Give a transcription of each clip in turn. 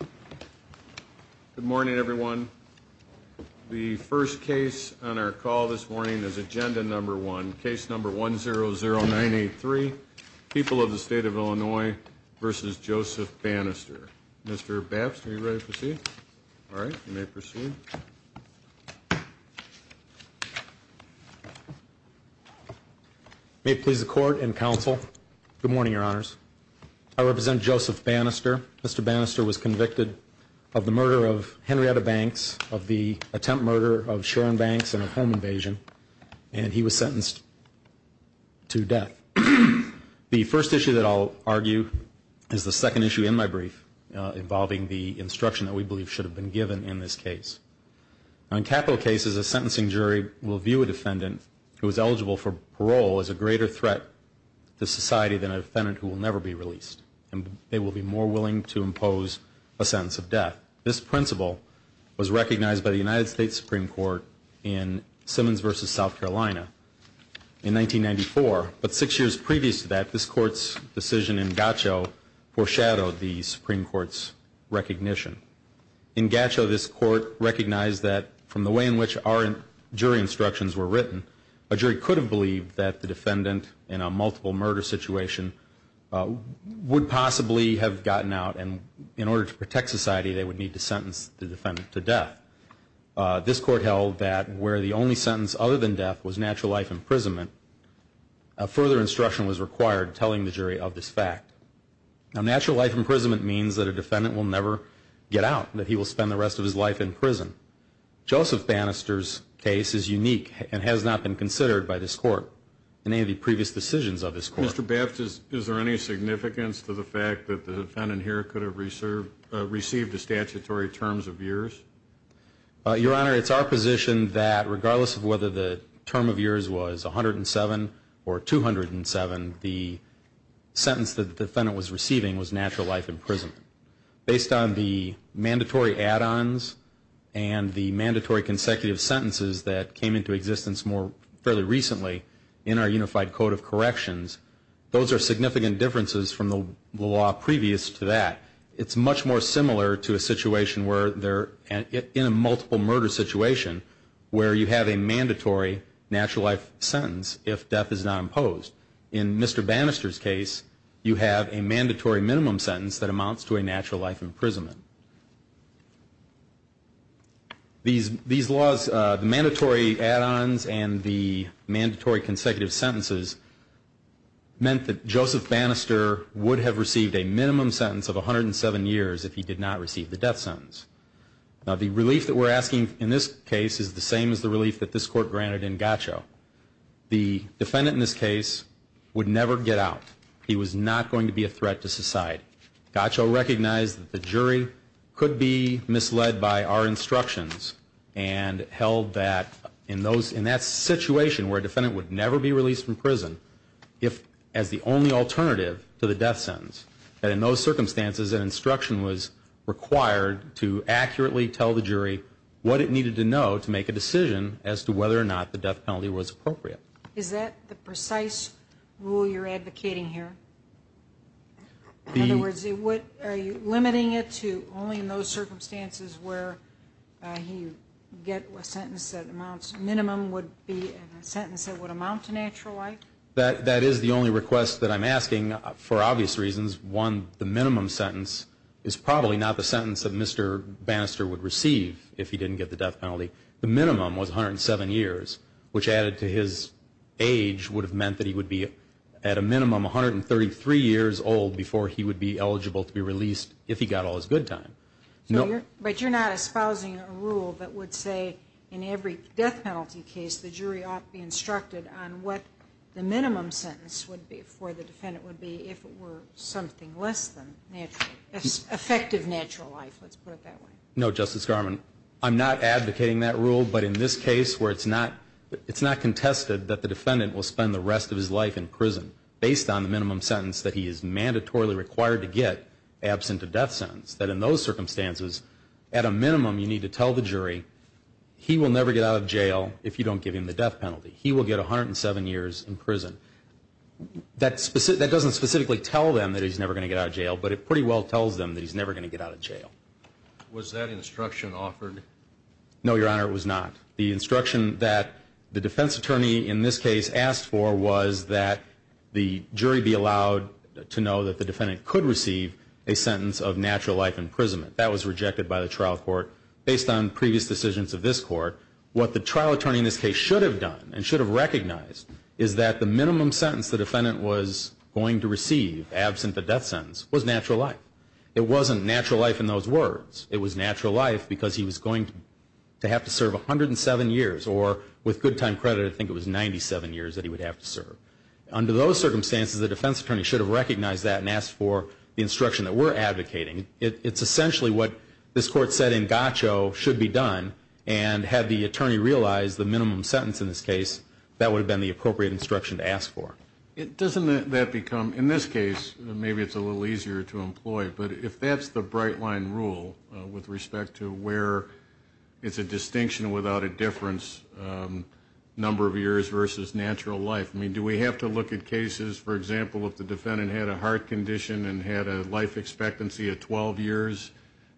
Good morning, everyone. The first case on our call this morning is agenda number one, case number 100983, People of the State of Illinois v. Joseph Bannister. Mr. Baps, are you ready to proceed? All right, you may proceed. May it please the court and counsel, good morning, your honors. I represent Joseph Bannister. Mr. Bannister was convicted of the murder of Henrietta Banks, of the attempt murder of Sharon Banks and a home invasion, and he was sentenced to death. The first issue that I'll argue is the second issue in my brief involving the instruction that we believe should have been given in this case. In capital cases, a sentencing jury will view a defendant who is eligible for parole as a greater threat to society than a defendant who will never be released, and they will be more willing to impose a sentence of death. This principle was recognized by the United States Supreme Court in Simmons v. South Carolina in 1994, but six years previous to that, this court's decision in Gatcho foreshadowed the Supreme Court's recognition. In Gatcho, this court recognized that from the way in which our jury instructions were written, a jury could have believed that the defendant in a multiple murder situation would possibly have gotten out, and in order to protect society, they would need to sentence the defendant to death. This court held that where the only sentence other than death was natural life imprisonment, further instruction was required telling the jury of this fact. Now, natural life imprisonment means that a defendant will never get out, that he will spend the rest of his life in prison. Joseph Bannister's case is unique and has not been considered by this court in any of the previous decisions of this court. Mr. Babbitt, is there any significance to the fact that the defendant here could have received the statutory terms of years? Those are significant differences from the law previous to that. It's much more similar to a situation where, in a multiple murder situation, where you have a mandatory natural life sentence if death is not imposed. In Mr. Bannister's case, you have a mandatory minimum sentence that amounts to a natural life imprisonment. These laws, the mandatory add-ons and the mandatory consecutive sentences, meant that Joseph Bannister would have received a minimum sentence of 107 years if he did not receive the death sentence. Now, the relief that we're asking in this case is the same as the relief that this court granted in Gaccio. The defendant in this case would never get out. He was not going to be a threat to society. Gaccio recognized that the jury could be misled by our instructions and held that, in that situation where a defendant would never be released from prison, if as the only alternative to the death sentence, that in those circumstances, an instruction was required to have a death sentence. It was necessary to accurately tell the jury what it needed to know to make a decision as to whether or not the death penalty was appropriate. Is that the precise rule you're advocating here? In other words, are you limiting it to only in those circumstances where you get a sentence that amounts, a minimum would be a sentence that would amount to natural life? That is the only request that I'm asking for obvious reasons. One, the minimum sentence is probably not the sentence that Mr. Bannister would receive if he didn't get the death penalty. The minimum was 107 years, which added to his age would have meant that he would be at a minimum 133 years old before he would be eligible to be released if he got all his good time. But you're not espousing a rule that would say in every death penalty case the jury ought to be instructed on what the minimum sentence would be for the defendant would be if it were something less than natural, effective natural life, let's put it that way. No, Justice Garmon. I'm not advocating that rule, but in this case where it's not contested that the defendant will spend the rest of his life in prison based on the minimum sentence that he is mandatorily required to get absent a death sentence, that in those circumstances at a minimum you need to tell the jury he will never get out of jail if you don't give him the death penalty. He will get 107 years in prison. That doesn't specifically tell them that he's never going to get out of jail, but it pretty well tells them that he's never going to get out of jail. Was that instruction offered? No, Your Honor, it was not. The instruction that the defense attorney in this case asked for was that the jury be allowed to know that the defendant could receive a sentence of natural life imprisonment. That was rejected by the trial court based on previous decisions of this court. However, what the trial attorney in this case should have done and should have recognized is that the minimum sentence the defendant was going to receive absent the death sentence was natural life. It wasn't natural life in those words. It was natural life because he was going to have to serve 107 years or with good time credit I think it was 97 years that he would have to serve. Under those circumstances the defense attorney should have recognized that and asked for the instruction that we're advocating. It's essentially what this court said in Gacho should be done and had the attorney realized the minimum sentence in this case that would have been the appropriate instruction to ask for. Doesn't that become, in this case, maybe it's a little easier to employ, but if that's the bright line rule with respect to where it's a distinction without a difference number of years versus natural life, do we have to look at cases, for example, if the defendant had a heart condition and had a life expectancy of 12 years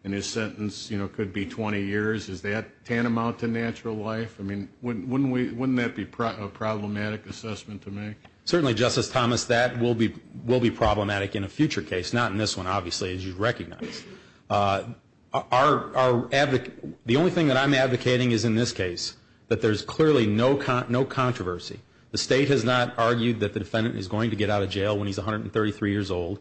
and his sentence could be 20 years, is that tantamount to natural life? Wouldn't that be a problematic assessment to make? Certainly, Justice Thomas, that will be problematic in a future case, not in this one, obviously, as you recognize. The only thing that I'm advocating is in this case that there's clearly no controversy. The state has not argued that the defendant is going to get out of jail when he's 133 years old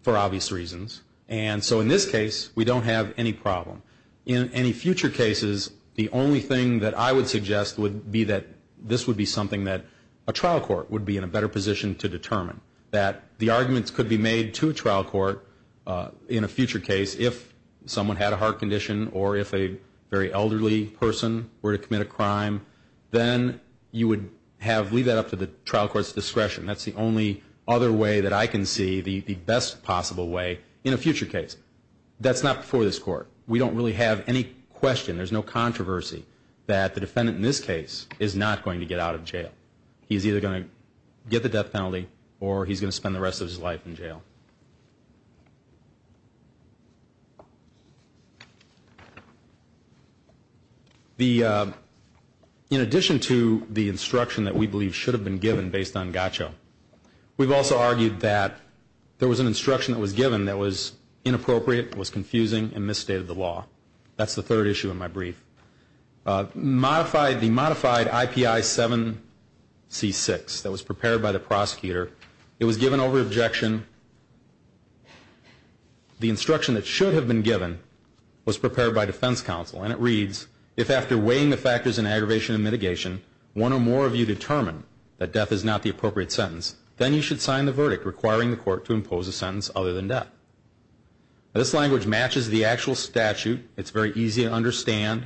for obvious reasons. And so in this case, we don't have any problem. In any future cases, the only thing that I would suggest would be that this would be something that a trial court would be in a better position to determine, that the arguments could be made to a trial court in a future case if someone had a heart condition or if a very elderly person were to commit a crime, then you would leave that up to the trial court's discretion. That's the only other way that I can see the best possible way in a future case. That's not before this Court. We don't really have any question, there's no controversy that the defendant in this case is not going to get out of jail. He's either going to get the death penalty or he's going to spend the rest of his life in jail. In addition to the instruction that we believe should have been given based on GACCHO, we've also argued that there was an instruction that was given that was inappropriate, was confusing, and misstated the law. That's the third issue in my brief. The modified IPI 7C6 that was prepared by the prosecutor, it was given over objection, the instruction that should have been given was prepared by defense counsel. And it reads, if after weighing the factors in aggravation and mitigation, one or more of you determine that death is not the appropriate sentence, then you should sign the verdict requiring the court to impose a sentence other than death. This language matches the actual statute. It's very easy to understand.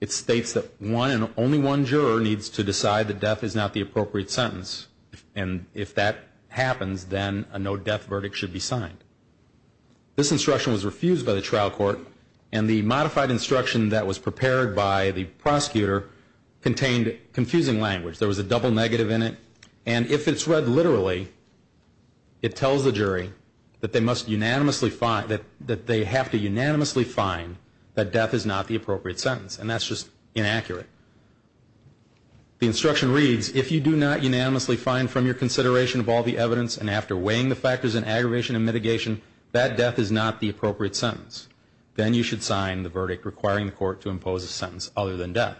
It states that one and only one juror needs to decide that death is not the appropriate sentence. And if that happens, then a no death verdict should be signed. This instruction was refused by the trial court. And the modified instruction that was prepared by the prosecutor contained confusing language. There was a double negative in it. And if it's read literally, it tells the jury that they must unanimously find, that they have to unanimously find that death is not the appropriate sentence. And that's just inaccurate. The instruction reads, if you do not unanimously find from your consideration of all the evidence and after weighing the factors in aggravation and mitigation that death is not the appropriate sentence, then you should sign the verdict requiring the court to impose a sentence other than death.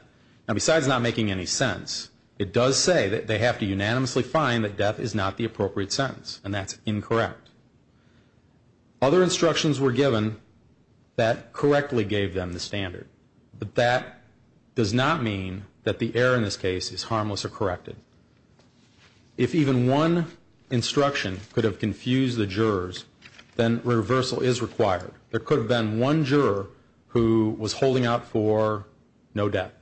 Now, besides not making any sense, it does say that they have to unanimously find that death is not the appropriate sentence. And that's incorrect. Other instructions were given that correctly gave them the standard. But that does not mean that the error in this case is harmless or corrected. If even one instruction could have confused the jurors, then reversal is required. There could have been one juror who was holding out for no death.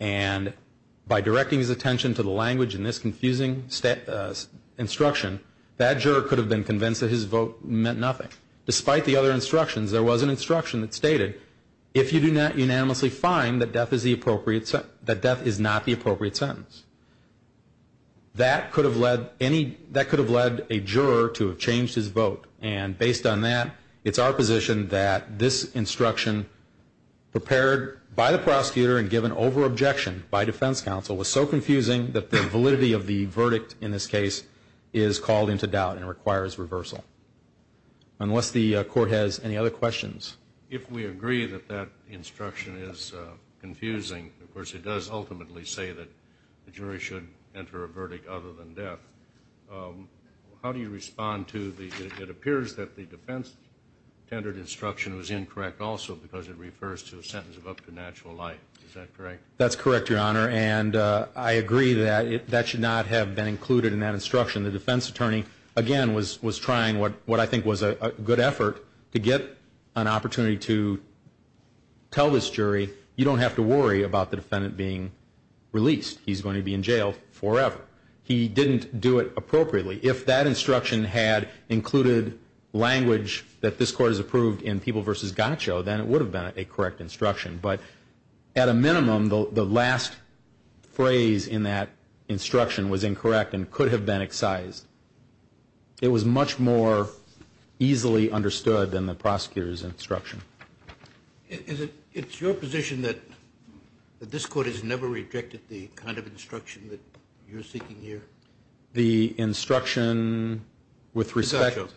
And by directing his attention to the language in this confusing instruction, that juror could have been convinced that his vote meant nothing. If you do not unanimously find that death is not the appropriate sentence, that could have led a juror to have changed his vote. And based on that, it's our position that this instruction, prepared by the prosecutor and given over objection by defense counsel, was so confusing that the validity of the verdict in this case is called into doubt and requires reversal. Unless the court has any other questions. If we agree that that instruction is confusing, of course, it does ultimately say that the jury should enter a verdict other than death. How do you respond to the, it appears that the defense-tendered instruction was incorrect also because it refers to a sentence of up to natural life. Is that correct? That's correct, Your Honor. And I agree that that should not have been included in that instruction. The defense attorney, again, was trying what I think was a good effort to get an opportunity to tell this jury, you don't have to worry about the defendant being released. He's going to be in jail forever. He didn't do it appropriately. If that instruction had included language that this court has approved in People v. Gaccio, then it would have been a correct instruction. But at a minimum, the last phrase in that instruction was incorrect and could have been excised. It was much more easily understood than the prosecutor's instruction. It's your position that this court has never rejected the kind of instruction that you're seeking here? The instruction with respect to,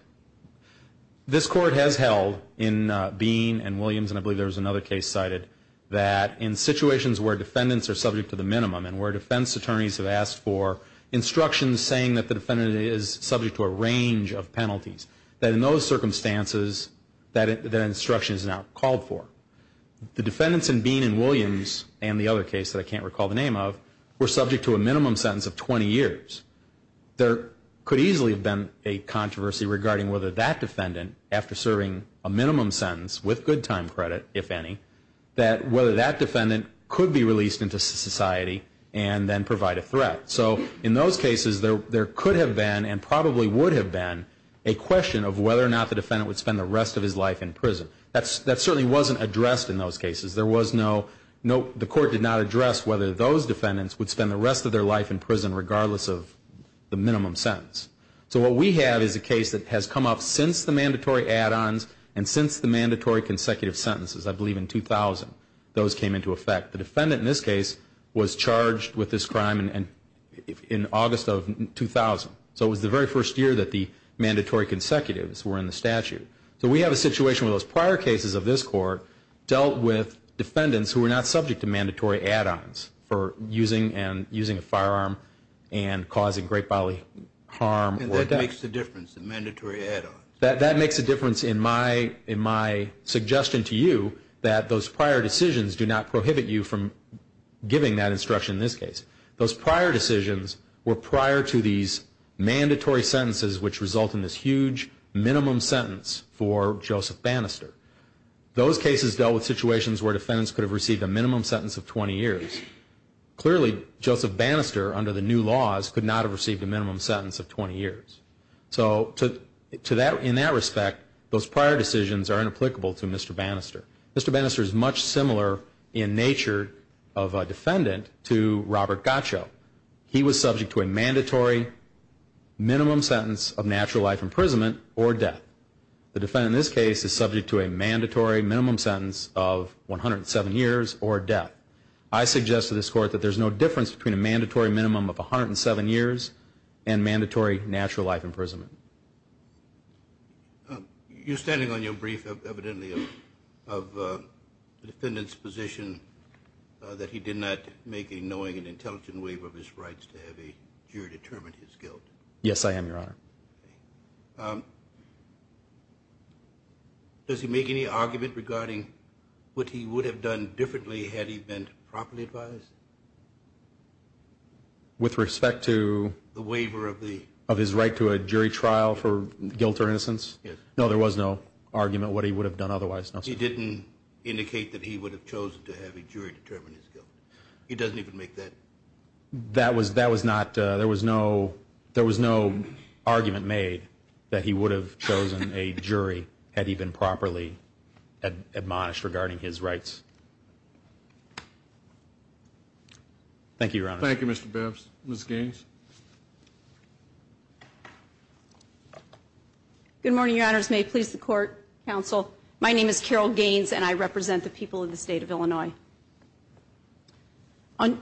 this court has held in Bean and Williams, and I believe there was another case cited, that in situations where defendants are subject to the minimum and where defense attorneys have asked for instructions saying that the defendant is subject to a range of penalties, that in those circumstances, that instruction is not called for. The defendants in Bean and Williams and the other case that I can't recall the name of were subject to a minimum sentence of 20 years. There could easily have been a controversy regarding whether that defendant, after serving a minimum sentence with good time credit, if any, that whether that defendant could be released into society and then provide a threat. So in those cases, there could have been, and probably would have been, a question of whether or not the defendant would spend the rest of his life in prison. That certainly wasn't addressed in those cases. There was no, the court did not address whether those defendants would spend the rest of their life in prison regardless of the minimum sentence. So what we have is a case that has come up since the mandatory add-ons and since the mandatory consecutive sentences, I believe in 2000, those came into effect. The defendant in this case was charged with this crime in August of 2000. So it was the very first year that the mandatory consecutives were in the statute. So we have a situation where those prior cases of this court dealt with defendants who were not subject to mandatory add-ons for using a firearm and causing great bodily harm. And that makes the difference, the mandatory add-ons. That makes a difference in my suggestion to you that those prior decisions do not prohibit you from giving that instruction in this case. Those prior decisions were prior to these mandatory sentences which result in this huge minimum sentence for Joseph Bannister. Those cases dealt with situations where defendants could have received a minimum sentence of 20 years. Clearly, Joseph Bannister, under the new laws, could not have received a minimum sentence of 20 years. So in that respect, those prior decisions are inapplicable to Mr. Bannister. Mr. Bannister is much similar in nature of a defendant to Robert Gottschalk. He was subject to a mandatory minimum sentence of natural life imprisonment or death. The defendant in this case is subject to a mandatory minimum sentence of 107 years or death. I suggest to this court that there's no difference between a mandatory minimum of 107 years and mandatory natural life imprisonment. You're standing on your brief, evidently, of the defendant's position that he did not make a knowing and intelligent waiver of his rights to have a jury determine his guilt. Yes, I am, Your Honor. Does he make any argument regarding what he would have done differently had he been properly advised? With respect to? The waiver of the. Of his right to a jury trial for guilt or innocence? Yes. No, there was no argument what he would have done otherwise. He didn't indicate that he would have chosen to have a jury determine his guilt. He doesn't even make that. That was not, there was no argument made that he would have chosen a jury had he been properly admonished regarding his rights. Thank you, Your Honor. Thank you, Mr. Bibbs. Ms. Gaines. Good morning, Your Honors. May it please the court, counsel. My name is Carol Gaines, and I represent the people of the state of Illinois. On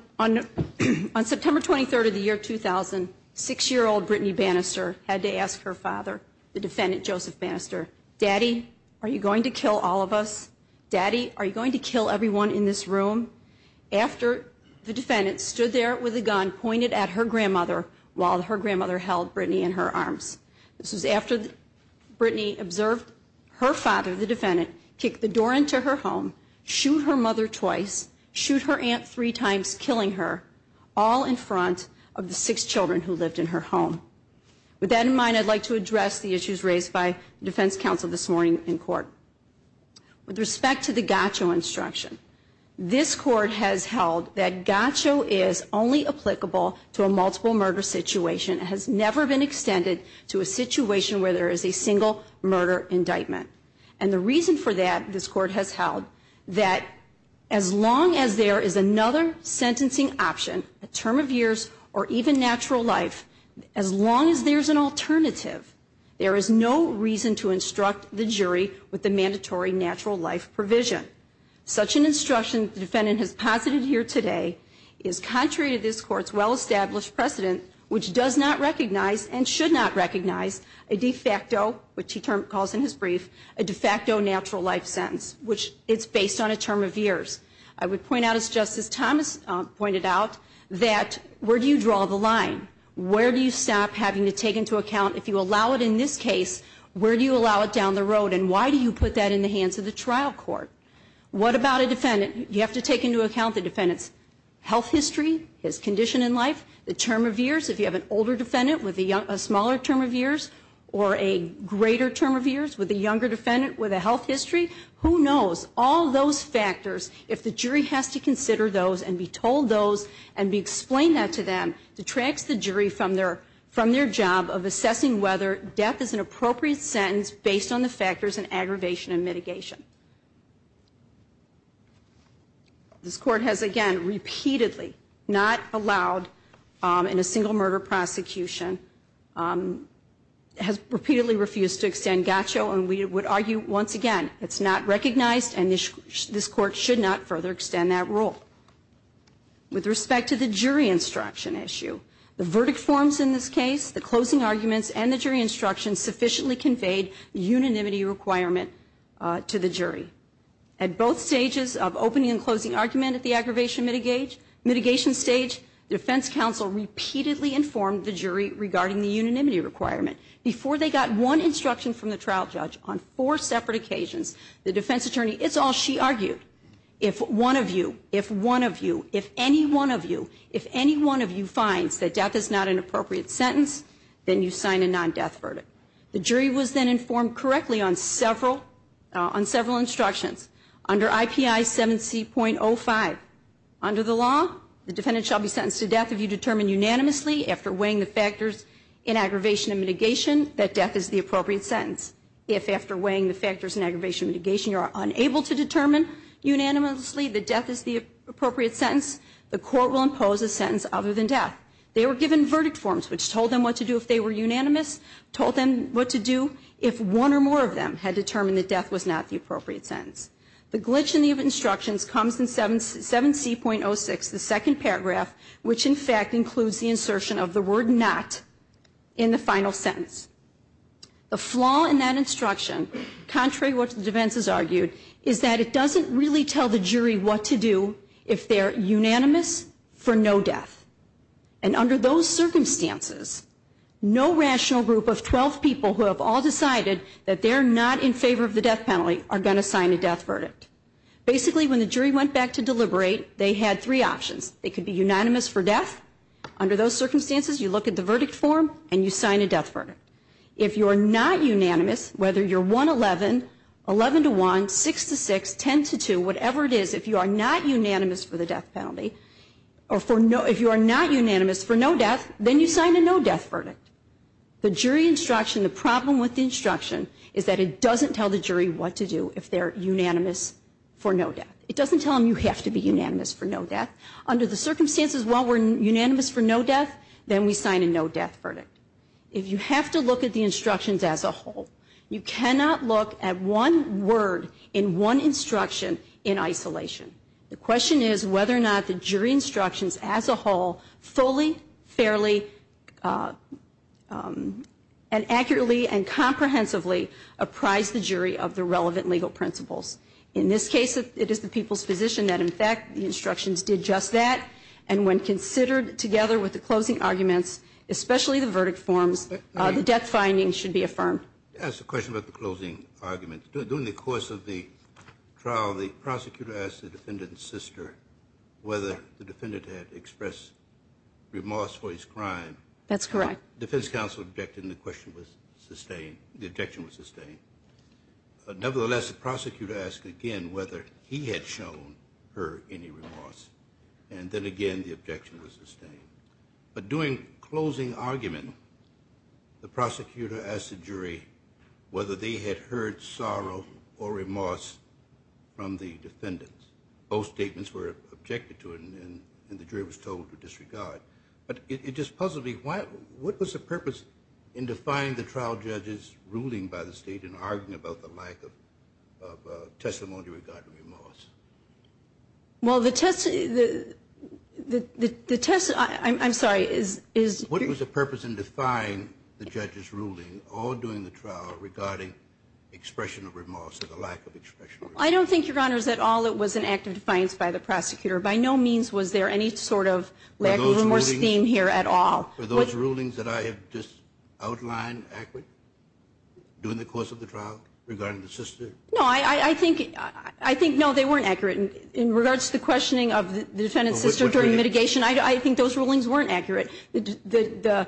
September 23rd of the year 2000, six-year-old Brittany Bannister had to ask her father, the defendant Joseph Bannister, Daddy, are you going to kill all of us? Daddy, are you going to kill everyone in this room? After the defendant stood there with a gun pointed at her grandmother while her grandmother held Brittany in her arms. This was after Brittany observed her father, the defendant, kick the door into her home, shoot her mother twice, shoot her aunt three times, killing her all in front of the six children who lived in her home. With that in mind, I'd like to address the issues raised by the defense counsel this morning in court. With respect to the gotcho instruction, this court has held that gotcho is only applicable to a multiple murder situation. It has never been extended to a situation where there is a single murder indictment. And the reason for that, this court has held, that as long as there is another sentencing option, a term of years or even natural life, as long as there's an alternative, there is no reason to instruct the jury with the mandatory natural life provision. Such an instruction the defendant has posited here today is contrary to this court's well-established precedent, which does not recognize and should not recognize a de facto, which he calls in his brief, a de facto natural life sentence, which it's based on a term of years. I would point out, as Justice Thomas pointed out, that where do you draw the line? Where do you stop having to take into account, if you allow it in this case, where do you allow it down the road, and why do you put that in the hands of the trial court? What about a defendant? You have to take into account the defendant's health history, his condition in life, the term of years, if you have an older defendant with a smaller term of years or a greater term of years, with a younger defendant with a health history. Who knows? All those factors, if the jury has to consider those and be told those and be explained that to them, detracts the jury from their job of assessing whether death is an appropriate sentence based on the factors in aggravation and mitigation. This court has, again, repeatedly not allowed in a single murder prosecution, has repeatedly refused to extend GACCHO, and we would argue, once again, it's not recognized and this court should not further extend that rule. With respect to the jury instruction issue, the verdict forms in this case, the closing arguments and the jury instructions sufficiently conveyed unanimity requirement to the jury. At both stages of opening and closing argument at the aggravation mitigation stage, the defense counsel repeatedly informed the jury regarding the unanimity requirement. Before they got one instruction from the trial judge on four separate occasions, the defense attorney, it's all she argued. If one of you, if one of you, if any one of you, if any one of you finds that death is not an appropriate sentence, then you sign a non-death verdict. The jury was then informed correctly on several instructions. Under IPI 7C.05, under the law, the defendant shall be sentenced to death if you determine unanimously after weighing the factors in aggravation and mitigation that death is the appropriate sentence. If after weighing the factors in aggravation and mitigation you are unable to determine unanimously that death is the appropriate sentence, the court will impose a sentence other than death. They were given verdict forms which told them what to do if they were unanimous, told them what to do if one or more of them had determined that death was not the appropriate sentence. The glitch in the instructions comes in 7C.06, the second paragraph, which in fact includes the insertion of the word not in the final sentence. The flaw in that instruction, contrary to what the defense has argued, is that it doesn't really tell the jury what to do if they're unanimous for no death. And under those circumstances, no rational group of 12 people who have all decided that they're not in favor of the death penalty are going to sign a death verdict. Basically, when the jury went back to deliberate, they had three options. They could be unanimous for death. Under those circumstances, you look at the verdict form and you sign a death verdict. If you are not unanimous, whether you're 1-11, 11-1, 6-6, 10-2, whatever it is, if you are not unanimous for the death penalty, or if you are not unanimous for no death, then you sign a no death verdict. The jury instruction, the problem with the instruction, is that it doesn't tell the jury what to do if they're unanimous for no death. It doesn't tell them you have to be unanimous for no death. Under the circumstances, while we're unanimous for no death, then we sign a no death verdict. If you have to look at the instructions as a whole, you cannot look at one word in one instruction in isolation. The question is whether or not the jury instructions as a whole fully, fairly, and accurately and comprehensively apprise the jury of the relevant legal principles. In this case, it is the people's position that, in fact, the instructions did just that. And when considered together with the closing arguments, especially the verdict forms, the death findings should be affirmed. To ask a question about the closing arguments. During the course of the trial, the prosecutor asked the defendant's sister whether the defendant had expressed remorse for his crime. That's correct. The defense counsel objected, and the question was sustained, the objection was sustained. Nevertheless, the prosecutor asked again whether he had shown her any remorse, and then again the objection was sustained. But during closing argument, the prosecutor asked the jury whether they had heard sorrow or remorse from the defendants. Both statements were objected to, and the jury was told to disregard. But it just puzzled me. What was the purpose in defying the trial judge's ruling by the state and arguing about the lack of testimony regarding remorse? Well, the test, I'm sorry. What was the purpose in defying the judge's ruling all during the trial regarding expression of remorse or the lack of expression of remorse? I don't think, Your Honors, at all it was an act of defiance by the prosecutor. By no means was there any sort of lack of remorse theme here at all. Were those rulings that I have just outlined accurate during the course of the trial regarding the sister? No, I think no, they weren't accurate. In regards to the questioning of the defendant's sister during mitigation, I think those rulings weren't accurate. The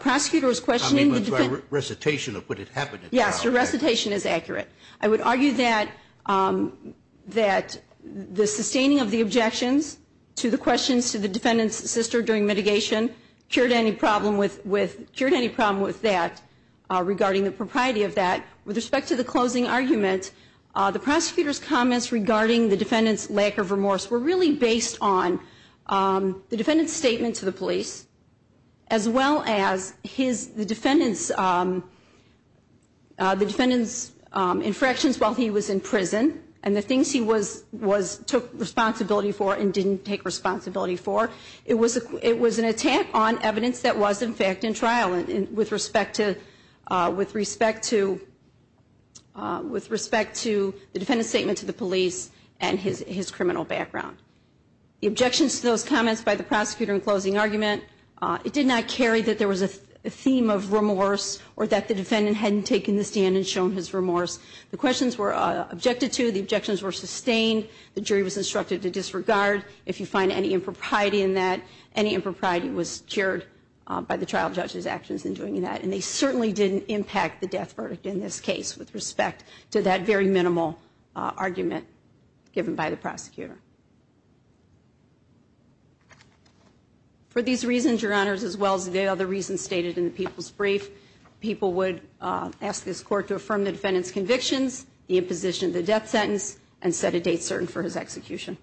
prosecutor was questioning the defendant. I mean by recitation of what had happened at the trial. Yes, the recitation is accurate. I would argue that the sustaining of the objections to the questions to the defendant's sister during mitigation cured any problem with that regarding the propriety of that. With respect to the closing argument, the prosecutor's comments regarding the defendant's lack of remorse were really based on the defendant's statement to the police as well as the defendant's infractions while he was in prison and the things he took responsibility for and didn't take responsibility for. It was an attack on evidence that was in fact in trial with respect to the defendant's statement to the police and his criminal background. The objections to those comments by the prosecutor in closing argument, it did not carry that there was a theme of remorse or that the defendant hadn't taken the stand and shown his remorse. The questions were objected to. The objections were sustained. The jury was instructed to disregard if you find any impropriety in that. Any impropriety was cured by the trial judge's actions in doing that. And they certainly didn't impact the death verdict in this case with respect to that very minimal argument given by the prosecutor. For these reasons, Your Honors, as well as the other reasons stated in the counsel's brief, people would ask this court to affirm the defendant's convictions, the imposition of the death sentence, and set a date certain for his execution.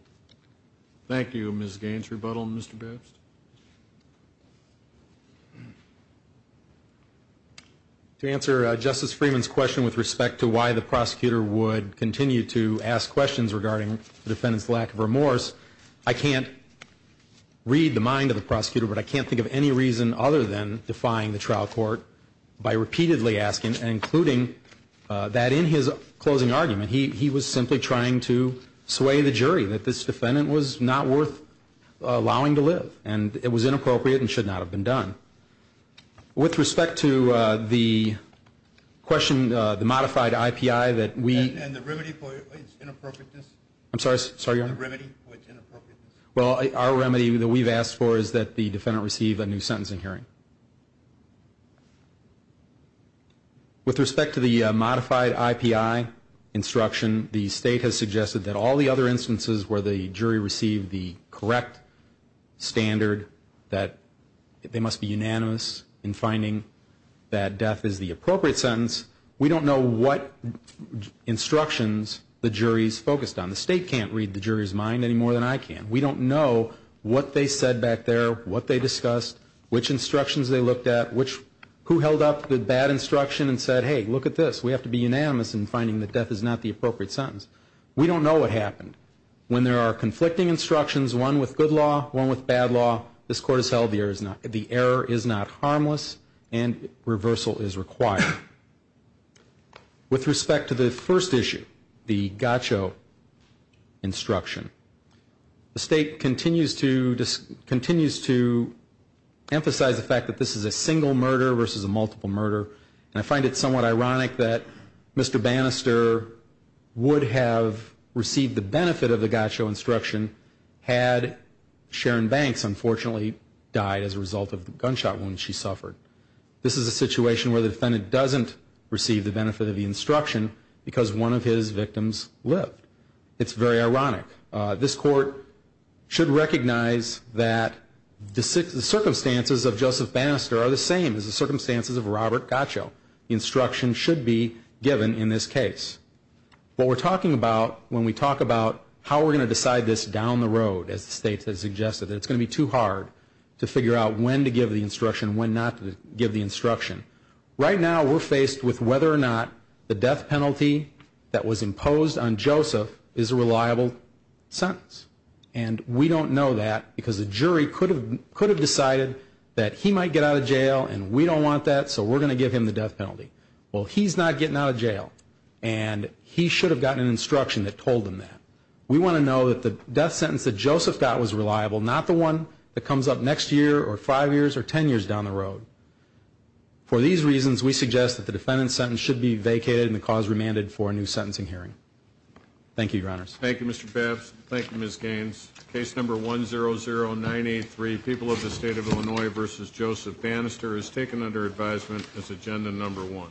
Thank you, Ms. Gaines. Rebuttal, Mr. Best? To answer Justice Freeman's question with respect to why the prosecutor would continue to ask questions regarding the defendant's lack of remorse, I can't read the mind of the prosecutor, but I can't think of any reason other than defying the trial court by repeatedly asking and including that in his closing argument he was simply trying to sway the jury, that this defendant was not worth allowing to live, and it was inappropriate and should not have been done. With respect to the question, the modified IPI that we ---- And the remedy for its inappropriateness? I'm sorry, Your Honor? The remedy for its inappropriateness? Well, our remedy that we've asked for is that the defendant receive a new sentence in hearing. With respect to the modified IPI instruction, the State has suggested that all the other instances where the jury received the correct standard, that they must be unanimous in finding that death is the appropriate sentence. We don't know what instructions the jury is focused on. The State can't read the jury's mind any more than I can. We don't know what they said back there, what they discussed, which instructions they looked at, who held up the bad instruction and said, hey, look at this, we have to be unanimous in finding that death is not the appropriate sentence. We don't know what happened. When there are conflicting instructions, one with good law, one with bad law, this Court has held the error is not harmless and reversal is required. With respect to the first issue, the GACCHO instruction, the State continues to emphasize the fact that this is a single murder versus a multiple murder. And I find it somewhat ironic that Mr. Bannister would have received the benefit of the GACCHO instruction had Sharon Banks unfortunately died as a result of the gunshot wound she suffered. This is a situation where the defendant doesn't receive the benefit of the instruction because one of his victims lived. It's very ironic. This Court should recognize that the circumstances of Joseph Bannister are the same as the circumstances of Robert GACCHO. Instructions should be given in this case. What we're talking about when we talk about how we're going to decide this down the road, as the State has suggested, that it's going to be too hard to figure out when to give the instruction, when not to give the instruction. Right now we're faced with whether or not the death penalty that was imposed on Joseph is a reliable sentence. And we don't know that because the jury could have decided that he might get out of jail and we don't want that so we're going to give him the death penalty. Well, he's not getting out of jail and he should have gotten an instruction that told him that. We want to know that the death sentence that Joseph got was reliable, not the one that comes up next year or five years or ten years down the road. For these reasons, we suggest that the defendant's sentence should be vacated and the cause remanded for a new sentencing hearing. Thank you, Your Honors. Thank you, Mr. Babs. Thank you, Ms. Gaines. Case number 100983, People of the State of Illinois v. Joseph Bannister, is taken under advisement as agenda number one.